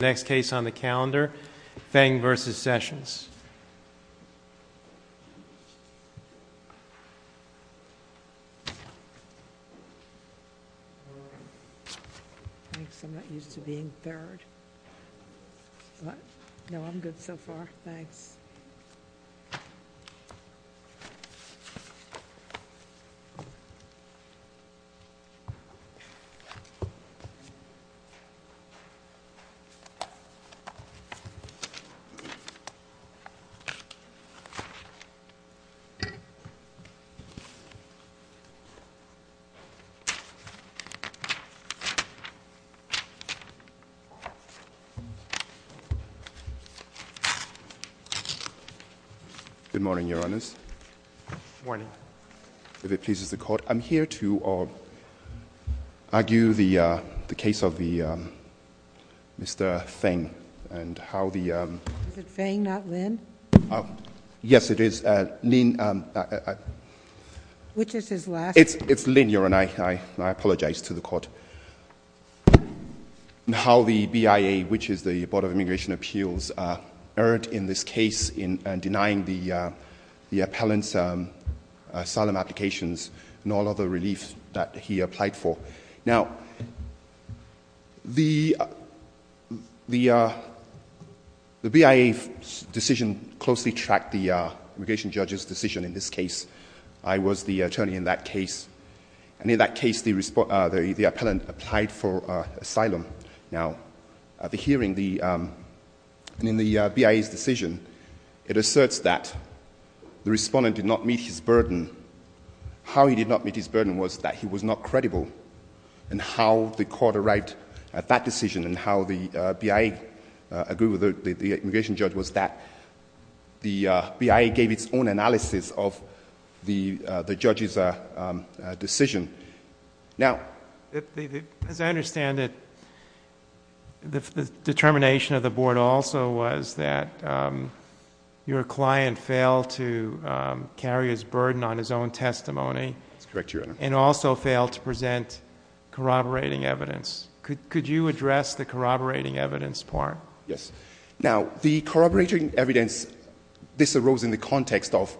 Next case on the calendar, Feng v. Sessions. Good morning, Your Honours. Good morning. If it pleases the Court, I'm here to argue the case of Mr. Feng and how the— Is it Feng, not Lin? Yes, it is. Lin— Which is his last name? It's Lin, Your Honour. I apologize to the Court. How the BIA, which is the Board of Immigration Appeals, erred in this case in denying the appellant's asylum applications and all other relief that he applied for. Now, the BIA decision closely tracked the immigration judge's decision in this case. I was the attorney in that case. And in that case, the appellant applied for asylum. Now, at the hearing, in the BIA's decision, it asserts that the respondent did not meet his burden. How he did not meet his burden was that he was not credible. And how the court arrived at that decision and how the BIA agreed with the immigration judge was that the BIA gave its own analysis of the judge's decision. Now— As I understand it, the determination of the Board also was that your client failed to carry his burden on his own testimony. That's correct, Your Honour. And also failed to present corroborating evidence. Could you address the corroborating evidence part? Yes. Now, the corroborating evidence—this arose in the context of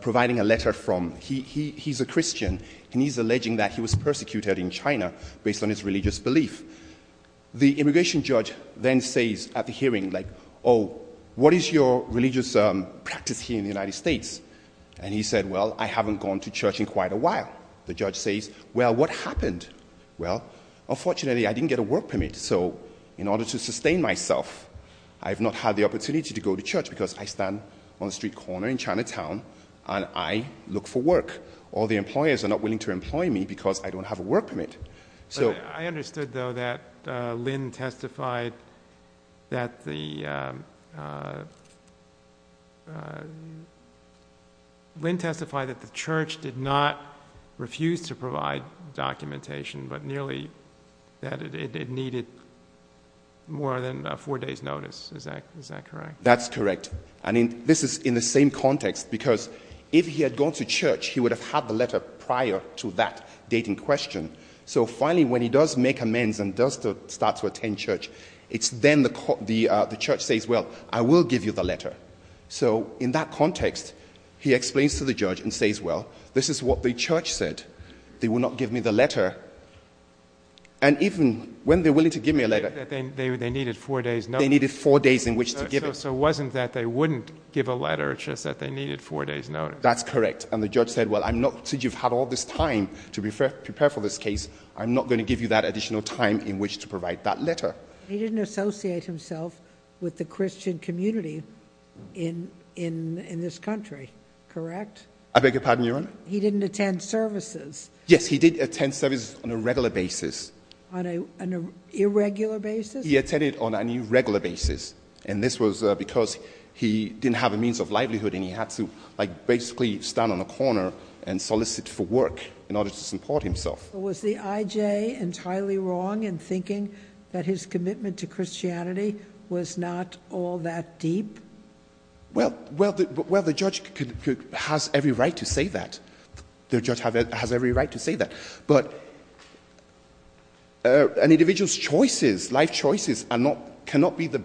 providing a letter from—he's a Christian, and he's alleging that he was persecuted in China based on his religious belief. The immigration judge then says at the hearing, like, oh, what is your religious practice here in the United States? And he said, well, I haven't gone to church in quite a while. The judge says, well, what happened? Well, unfortunately, I didn't get a work permit, so in order to sustain myself, I've not had the opportunity to go to church because I stand on a street corner in Chinatown and I look for work. All the employers are not willing to employ me because I don't have a work permit. I understood, though, that Lynn testified that the—Lynn testified that the church did not refuse to provide documentation, but merely that it needed more than a four days' notice. Is that correct? That's correct. And this is in the same context because if he had gone to church, he would have had the letter prior to that dating question. So finally, when he does make amends and does start to attend church, it's then the church says, well, I will give you the letter. So in that context, he explains to the judge and says, well, this is what the church said. They will not give me the letter. And even when they're willing to give me a letter— They needed four days' notice. They needed four days in which to give it. So it wasn't that they wouldn't give a letter, it's just that they needed four days' notice. That's correct. And the judge said, well, I'm not—since you've had all this time to prepare for this case, I'm not going to give you that additional time in which to provide that letter. He didn't associate himself with the Christian community in this country, correct? I beg your pardon, Your Honor? He didn't attend services. Yes, he did attend services on a regular basis. On an irregular basis? He attended on an irregular basis. And this was because he didn't have a means of livelihood and he had to basically stand on a corner and solicit for work in order to support himself. Was the IJ entirely wrong in thinking that his commitment to Christianity was not all that deep? Well, the judge has every right to say that. The judge has every right to say that. But an individual's choices, life choices, cannot be the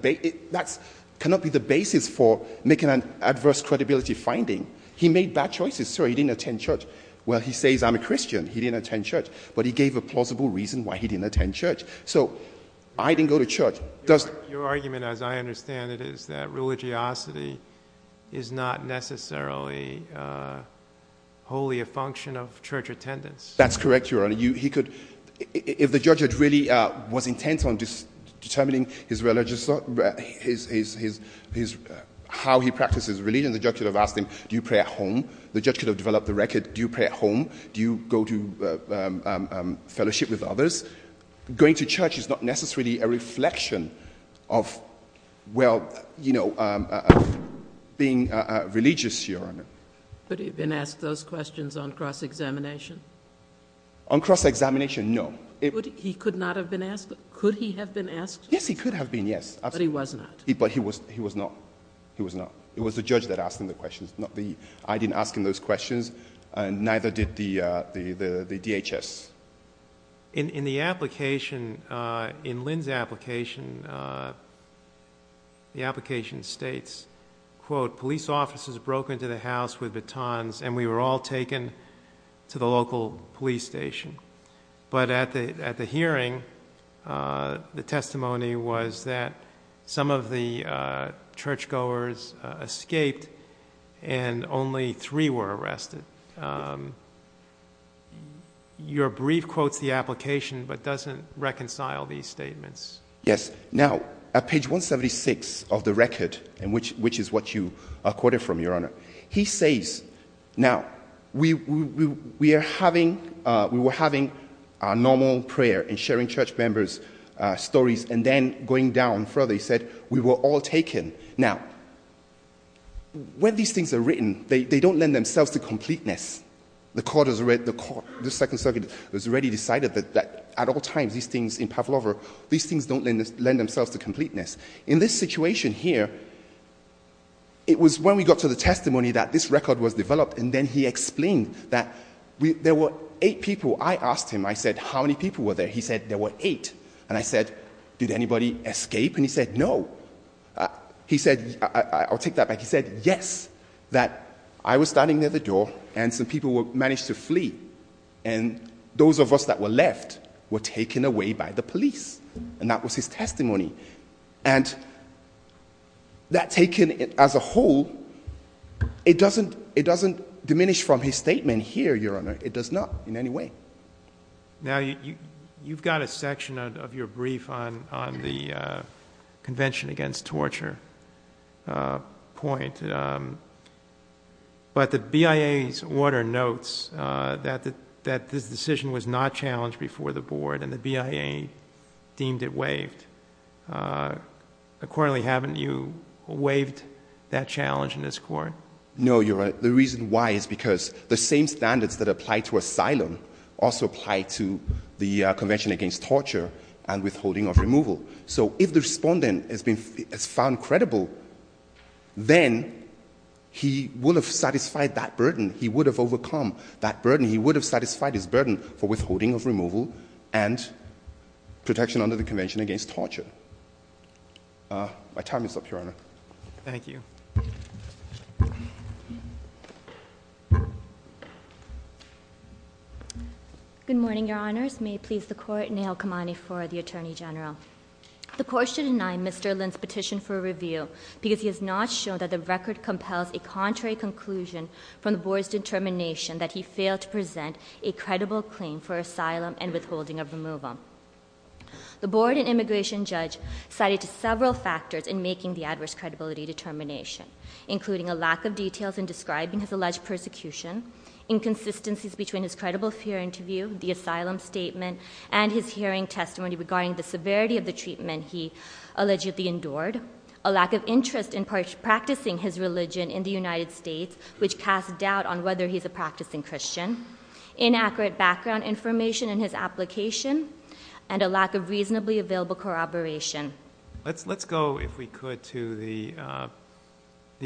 basis for making an adverse credibility finding. He made bad choices, sir. He didn't attend church. Well, he says I'm a Christian. He didn't attend church. But he gave a plausible reason why he didn't attend church. So I didn't go to church. Your argument, as I understand it, is that religiosity is not necessarily wholly a function of church attendance. That's correct, Your Honor. If the judge really was intent on determining how he practices religion, the judge could have asked him, do you pray at home? The judge could have developed the record, do you pray at home? Do you go to fellowship with others? Going to church is not necessarily a reflection of, well, being religious, Your Honor. But he had been asked those questions on cross-examination? On cross-examination, no. He could not have been asked? Could he have been asked? Yes, he could have been, yes. But he was not. But he was not. He was not. It was the judge that asked him the questions. I didn't ask him those questions, and neither did the DHS. In Lynn's application, the application states, quote, police officers broke into the house with batons, and we were all taken to the local police station. But at the hearing, the testimony was that some of the churchgoers escaped, and only three were arrested. Your brief quotes the application, but doesn't reconcile these statements. Yes. Now, at page 176 of the record, which is what you quoted from, Your Honor, he says, now, we were having our normal prayer and sharing church members' stories, and then going down further, he said, we were all taken. Now, when these things are written, they don't lend themselves to completeness. The court has already — the second circuit has already decided that at all times, these things in Pavlova, these things don't lend themselves to completeness. In this situation here, it was when we got to the testimony that this record was developed, and then he explained that there were eight people. I asked him. I said, how many people were there? He said, there were eight. And I said, did anybody escape? And he said, no. He said — I'll take that back. He said, yes, that I was standing near the door, and some people managed to flee, and those of us that were left were taken away by the police. And that was his testimony. And that taken as a whole, it doesn't diminish from his statement here, Your Honor. It does not in any way. Now, you've got a section of your brief on the convention against torture point. But the BIA's order notes that this decision was not challenged before the board, and the BIA deemed it waived. Accordingly, haven't you waived that challenge in this court? No, Your Honor. But the reason why is because the same standards that apply to asylum also apply to the convention against torture and withholding of removal. So if the respondent has found credible, then he would have satisfied that burden. He would have overcome that burden. He would have satisfied his burden for withholding of removal and protection under the convention against torture. My time is up, Your Honor. Thank you. Good morning, Your Honors. May it please the court, Neha Kamani for the Attorney General. The court should deny Mr. Lynn's petition for review because he has not shown that the record compels a contrary conclusion from the board's determination that he failed to present a credible claim for asylum and withholding of removal. The board and immigration judge cited several factors in making the adverse credibility determination, including a lack of details in describing his alleged persecution, inconsistencies between his credible fear interview, the asylum statement, and his hearing testimony regarding the severity of the treatment he allegedly endured, a lack of interest in practicing his religion in the United States, which casts doubt on whether he's a practicing Christian, inaccurate background information in his application, and a lack of reasonably available corroboration. Let's go, if we could, to the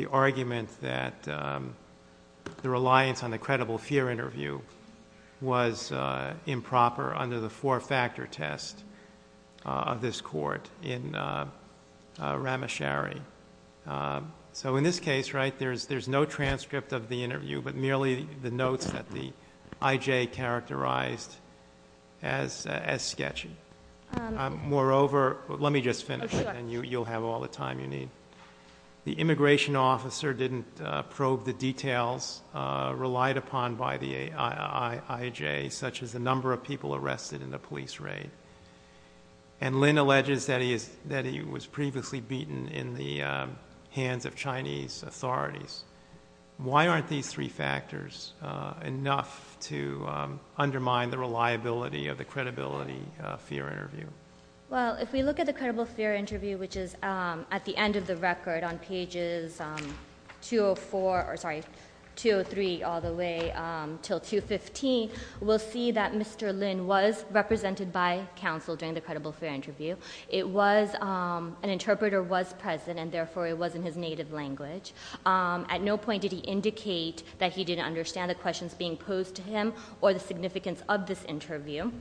argument that the reliance on the credible fear interview was improper under the four-factor test of this court in Ramachari. So in this case, right, there's no transcript of the interview, but merely the notes that the IJ characterized as sketchy. Moreover, let me just finish, and you'll have all the time you need. The immigration officer didn't probe the details relied upon by the IJ, such as the number of people arrested in the police raid. And Lin alleges that he was previously beaten in the hands of Chinese authorities. Why aren't these three factors enough to undermine the reliability of the credibility fear interview? Well, if we look at the credible fear interview, which is at the end of the record on pages 204, or sorry, 203 all the way till 215, we'll see that Mr. Lin was represented by counsel during the credible fear interview. It was, an interpreter was present, and therefore it was in his native language. At no point did he indicate that he didn't understand the questions being posed to him or the significance of this interview.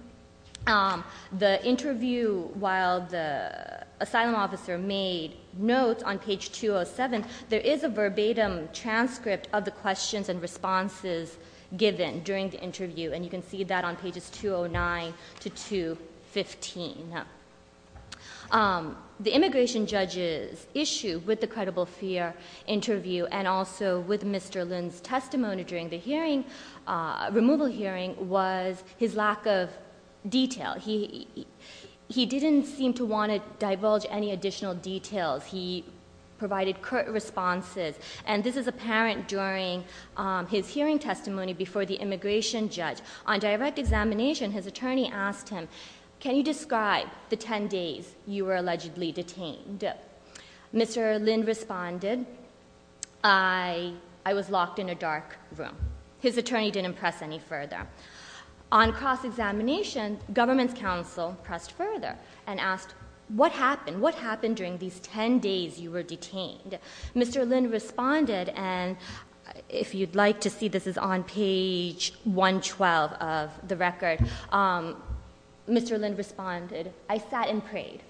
The interview, while the asylum officer made notes on page 207, there is a verbatim transcript of the questions and responses given during the interview, and you can see that on pages 209 to 215. The immigration judge's issue with the credible fear interview and also with Mr. Lin's testimony during the hearing, removal hearing, was his lack of detail. He didn't seem to want to divulge any additional details. He provided curt responses, and this is apparent during his hearing testimony before the immigration judge. On direct examination, his attorney asked him, can you describe the 10 days you were allegedly detained? Mr. Lin responded, I was locked in a dark room. His attorney didn't press any further. On cross-examination, government's counsel pressed further and asked, what happened? What happened during these 10 days you were detained? Mr. Lin responded, and if you'd like to see, this is on page 112 of the record. Mr. Lin responded, I sat and prayed.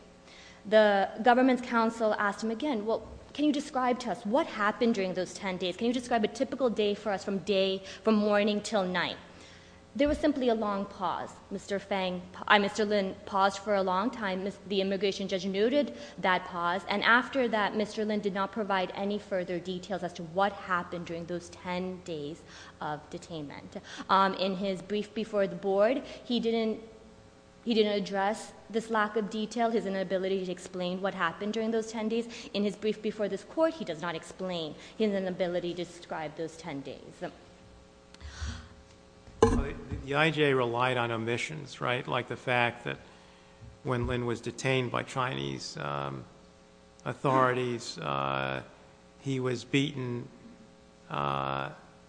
The government's counsel asked him again, well, can you describe to us what happened during those 10 days? Can you describe a typical day for us from morning till night? There was simply a long pause. Mr. Lin paused for a long time. The immigration judge noted that pause. And after that, Mr. Lin did not provide any further details as to what happened during those 10 days of detainment. In his brief before the board, he didn't address this lack of detail, his inability to explain what happened during those 10 days. In his brief before this court, he does not explain his inability to describe those 10 days. The IJA relied on omissions, right? Like the fact that when Lin was detained by Chinese authorities, he was beaten,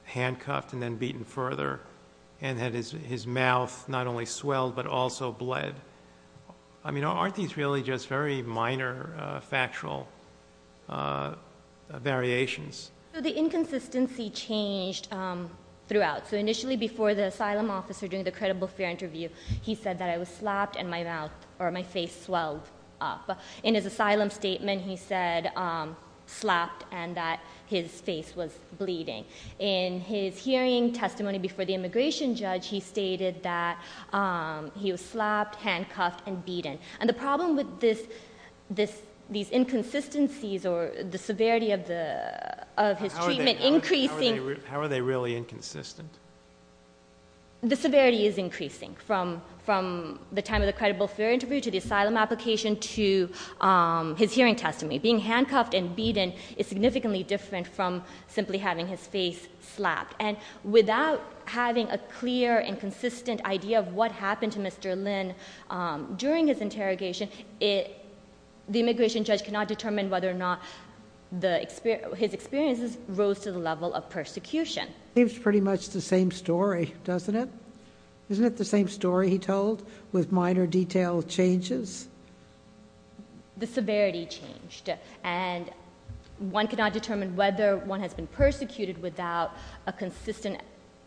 handcuffed and then beaten further, and had his mouth not only swelled but also bled. I mean, aren't these really just very minor factual variations? The inconsistency changed throughout. So initially before the asylum officer during the credible fear interview, he said that I was slapped and my mouth or my face swelled up. In his asylum statement, he said slapped and that his face was bleeding. In his hearing testimony before the immigration judge, he stated that he was slapped, handcuffed and beaten. And the problem with these inconsistencies or the severity of his treatment increasing... How are they really inconsistent? The severity is increasing from the time of the credible fear interview to the asylum application to his hearing testimony. Being handcuffed and beaten is significantly different from simply having his face slapped. And without having a clear and consistent idea of what happened to Mr. Lin during his interrogation, the immigration judge cannot determine whether or not his experiences rose to the level of persecution. It's pretty much the same story, doesn't it? Isn't it the same story he told with minor detailed changes? The severity changed. And one cannot determine whether one has been persecuted without a consistent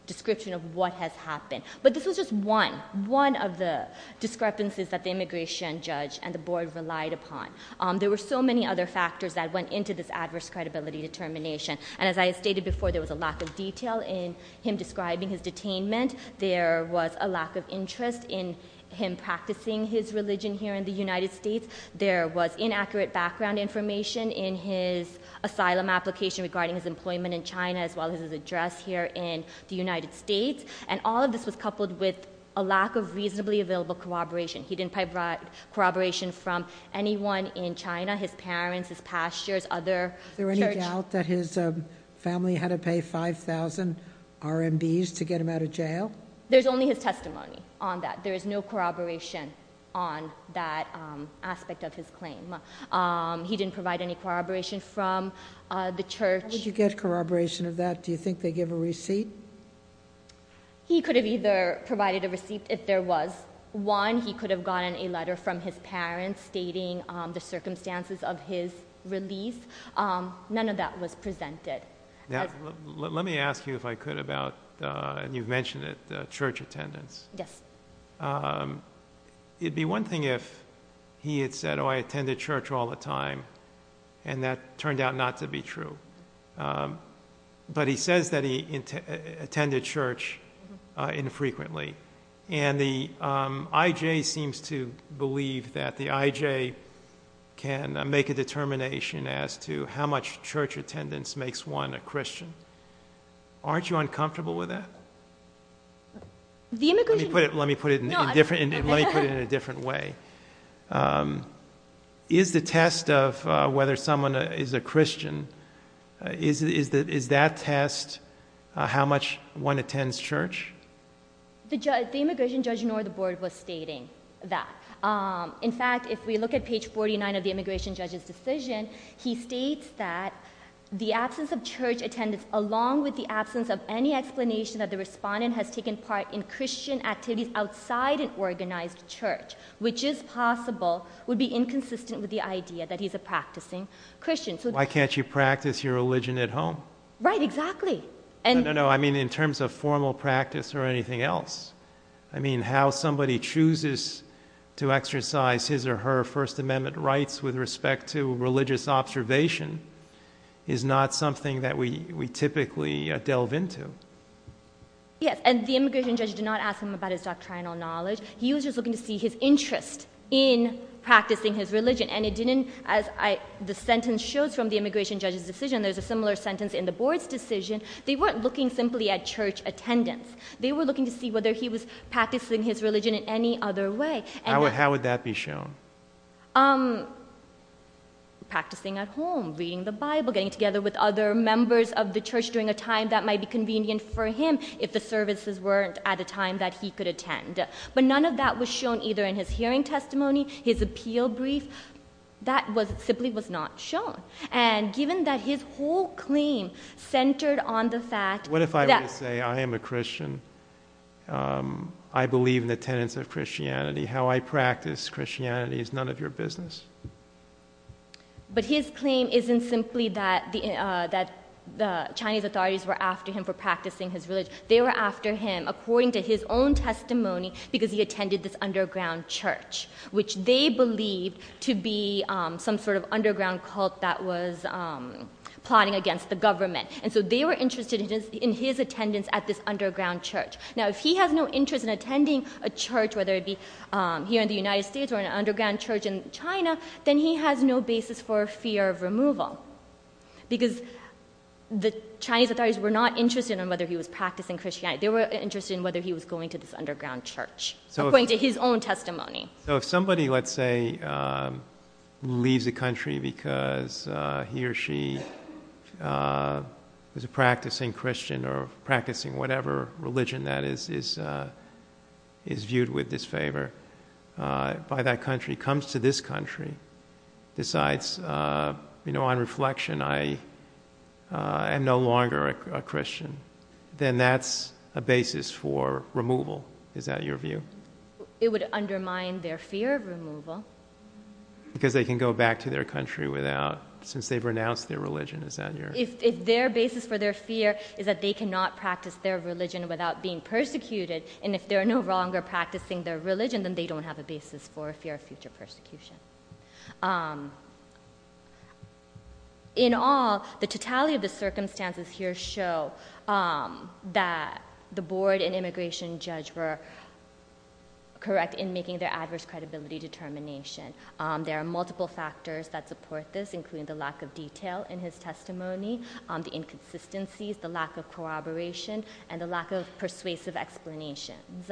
description of what has happened. But this was just one, one of the discrepancies that the immigration judge and the board relied upon. There were so many other factors that went into this adverse credibility determination. And as I stated before, there was a lack of detail in him describing his detainment. There was a lack of interest in him practicing his religion here in the United States. There was inaccurate background information in his asylum application regarding his employment in China as well as his address here in the United States. And all of this was coupled with a lack of reasonably available corroboration. He didn't provide corroboration from anyone in China, his parents, his pastors, other churches. Is it doubt that his family had to pay 5,000 RMBs to get him out of jail? There's only his testimony on that. There is no corroboration on that aspect of his claim. He didn't provide any corroboration from the church. How did you get corroboration of that? Do you think they give a receipt? He could have either provided a receipt if there was one. He could have gotten a letter from his parents stating the circumstances of his release. None of that was presented. Let me ask you if I could about, and you've mentioned it, church attendance. Yes. It would be one thing if he had said, oh, I attend the church all the time, and that turned out not to be true. But he says that he attended church infrequently. And the IJ seems to believe that the IJ can make a determination as to how much church attendance makes one a Christian. Aren't you uncomfortable with that? Let me put it in a different way. Is the test of whether someone is a Christian, is that test how much one attends church? The immigration judge nor the board was stating that. In fact, if we look at page 49 of the immigration judge's decision, he states that the absence of church attendance along with the absence of any explanation that the respondent has taken part in Christian activities outside an organized church, which is possible, would be inconsistent with the idea that he's a practicing Christian. Why can't you practice your religion at home? Right, exactly. No, no, no. I mean in terms of formal practice or anything else. I mean how somebody chooses to exercise his or her First Amendment rights with respect to religious observation is not something that we typically delve into. Yes, and the immigration judge did not ask him about his doctrinal knowledge. He was just looking to see his interest in practicing his religion. And it didn't, as the sentence shows from the immigration judge's decision, and there's a similar sentence in the board's decision, they weren't looking simply at church attendance. They were looking to see whether he was practicing his religion in any other way. How would that be shown? Practicing at home, reading the Bible, getting together with other members of the church during a time that might be convenient for him if the services weren't at a time that he could attend. But none of that was shown either in his hearing testimony, his appeal brief. That simply was not shown. And given that his whole claim centered on the fact that— What if I were to say I am a Christian, I believe in the tenets of Christianity, how I practice Christianity is none of your business? But his claim isn't simply that the Chinese authorities were after him for practicing his religion. They were after him according to his own testimony because he attended this underground church, which they believed to be some sort of underground cult that was plotting against the government. And so they were interested in his attendance at this underground church. Now, if he has no interest in attending a church, whether it be here in the United States or an underground church in China, then he has no basis for fear of removal because the Chinese authorities were not interested in whether he was practicing Christianity. They were interested in whether he was going to this underground church according to his own testimony. So if somebody, let's say, leaves a country because he or she was a practicing Christian or practicing whatever religion that is viewed with disfavor by that country, comes to this country, decides on reflection I am no longer a Christian, then that's a basis for removal. Is that your view? It would undermine their fear of removal. Because they can go back to their country without, since they've renounced their religion. Is that your... If their basis for their fear is that they cannot practice their religion without being persecuted, and if they're no longer practicing their religion, then they don't have a basis for a fear of future persecution. In all, the totality of the circumstances here show that the board and immigration judge were correct in making their adverse credibility determination. There are multiple factors that support this, including the lack of detail in his testimony, the inconsistencies, the lack of corroboration, and the lack of persuasive explanations.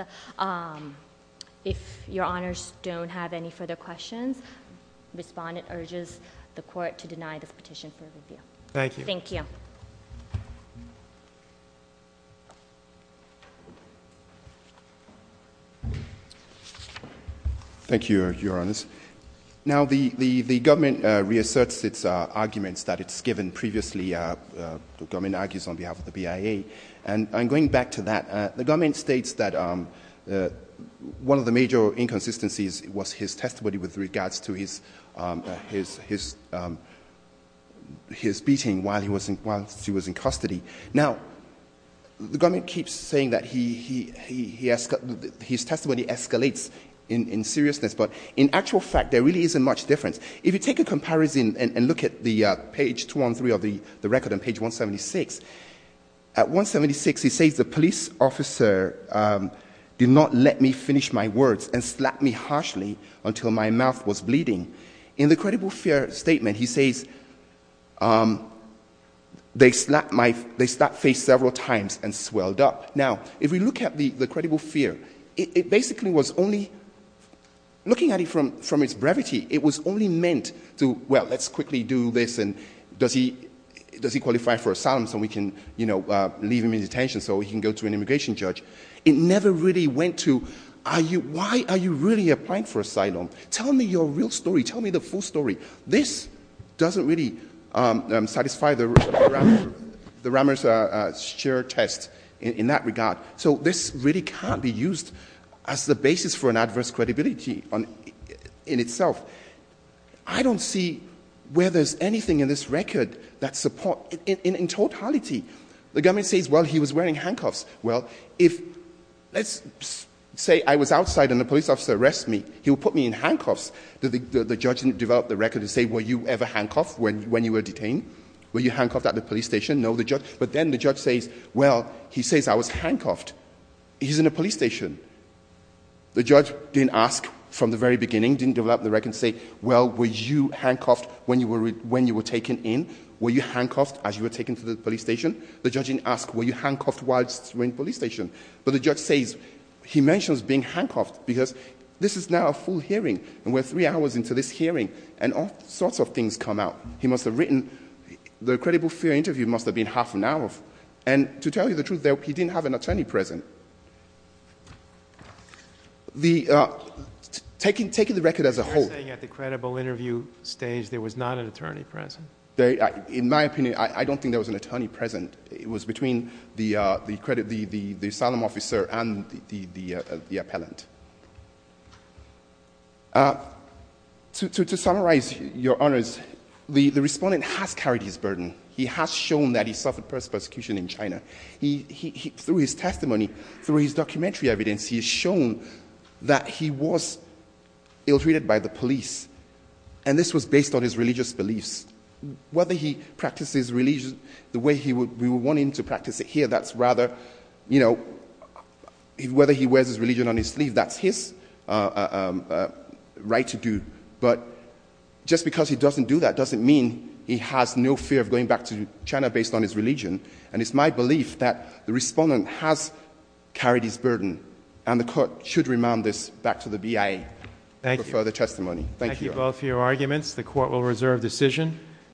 If your honors don't have any further questions, respondent urges the court to deny this petition for review. Thank you. Thank you. Thank you, your honors. Now the government reasserts its arguments that it's given previously, the government argues on behalf of the BIA, and I'm going back to that. The government states that one of the major inconsistencies was his testimony with regards to his beating while he was in custody. Now, the government keeps saying that his testimony escalates in seriousness, but in actual fact, there really isn't much difference. If you take a comparison and look at the page 213 of the record on page 176, at 176 he says, the police officer did not let me finish my words and slapped me harshly until my mouth was bleeding. In the credible fear statement, he says, they slapped my face several times and swelled up. Now, if we look at the credible fear, it basically was only, looking at it from its brevity, it was only meant to, well, let's quickly do this and does he qualify for asylum so we can, you know, leave him in detention so he can go to an immigration judge. It never really went to, why are you really applying for asylum? Tell me your real story. Tell me the full story. This doesn't really satisfy the Ramers' shared test in that regard. So this really can't be used as the basis for an adverse credibility in itself. I don't see where there's anything in this record that support, in totality. The government says, well, he was wearing handcuffs. Well, if, let's say I was outside and the police officer arrests me, he will put me in handcuffs. The judge developed the record to say, were you ever handcuffed when you were detained? Were you handcuffed at the police station? But then the judge says, well, he says I was handcuffed. He's in a police station. The judge didn't ask from the very beginning, didn't develop the record and say, well, were you handcuffed when you were taken in? Were you handcuffed as you were taken to the police station? The judge didn't ask, were you handcuffed while you were in the police station? But the judge says, he mentions being handcuffed because this is now a full hearing and we're three hours into this hearing and all sorts of things come out. He must have written, the credible fear interview must have been half an hour. And to tell you the truth, he didn't have an attorney present. Taking the record as a whole. You're saying at the credible interview stage there was not an attorney present? In my opinion, I don't think there was an attorney present. It was between the asylum officer and the appellant. To summarize, Your Honors, the respondent has carried his burden. He has shown that he suffered persecution in China. Through his testimony, through his documentary evidence, he has shown that he was ill-treated by the police. And this was based on his religious beliefs. Whether he practices religion the way we want him to practice it here, whether he wears his religion on his sleeve, that's his right to do. But just because he doesn't do that doesn't mean he has no fear of going back to China based on his religion. And it's my belief that the respondent has carried his burden. And the court should remand this back to the BIA for further testimony. Thank you. Thank you both for your arguments. The court will reserve decision.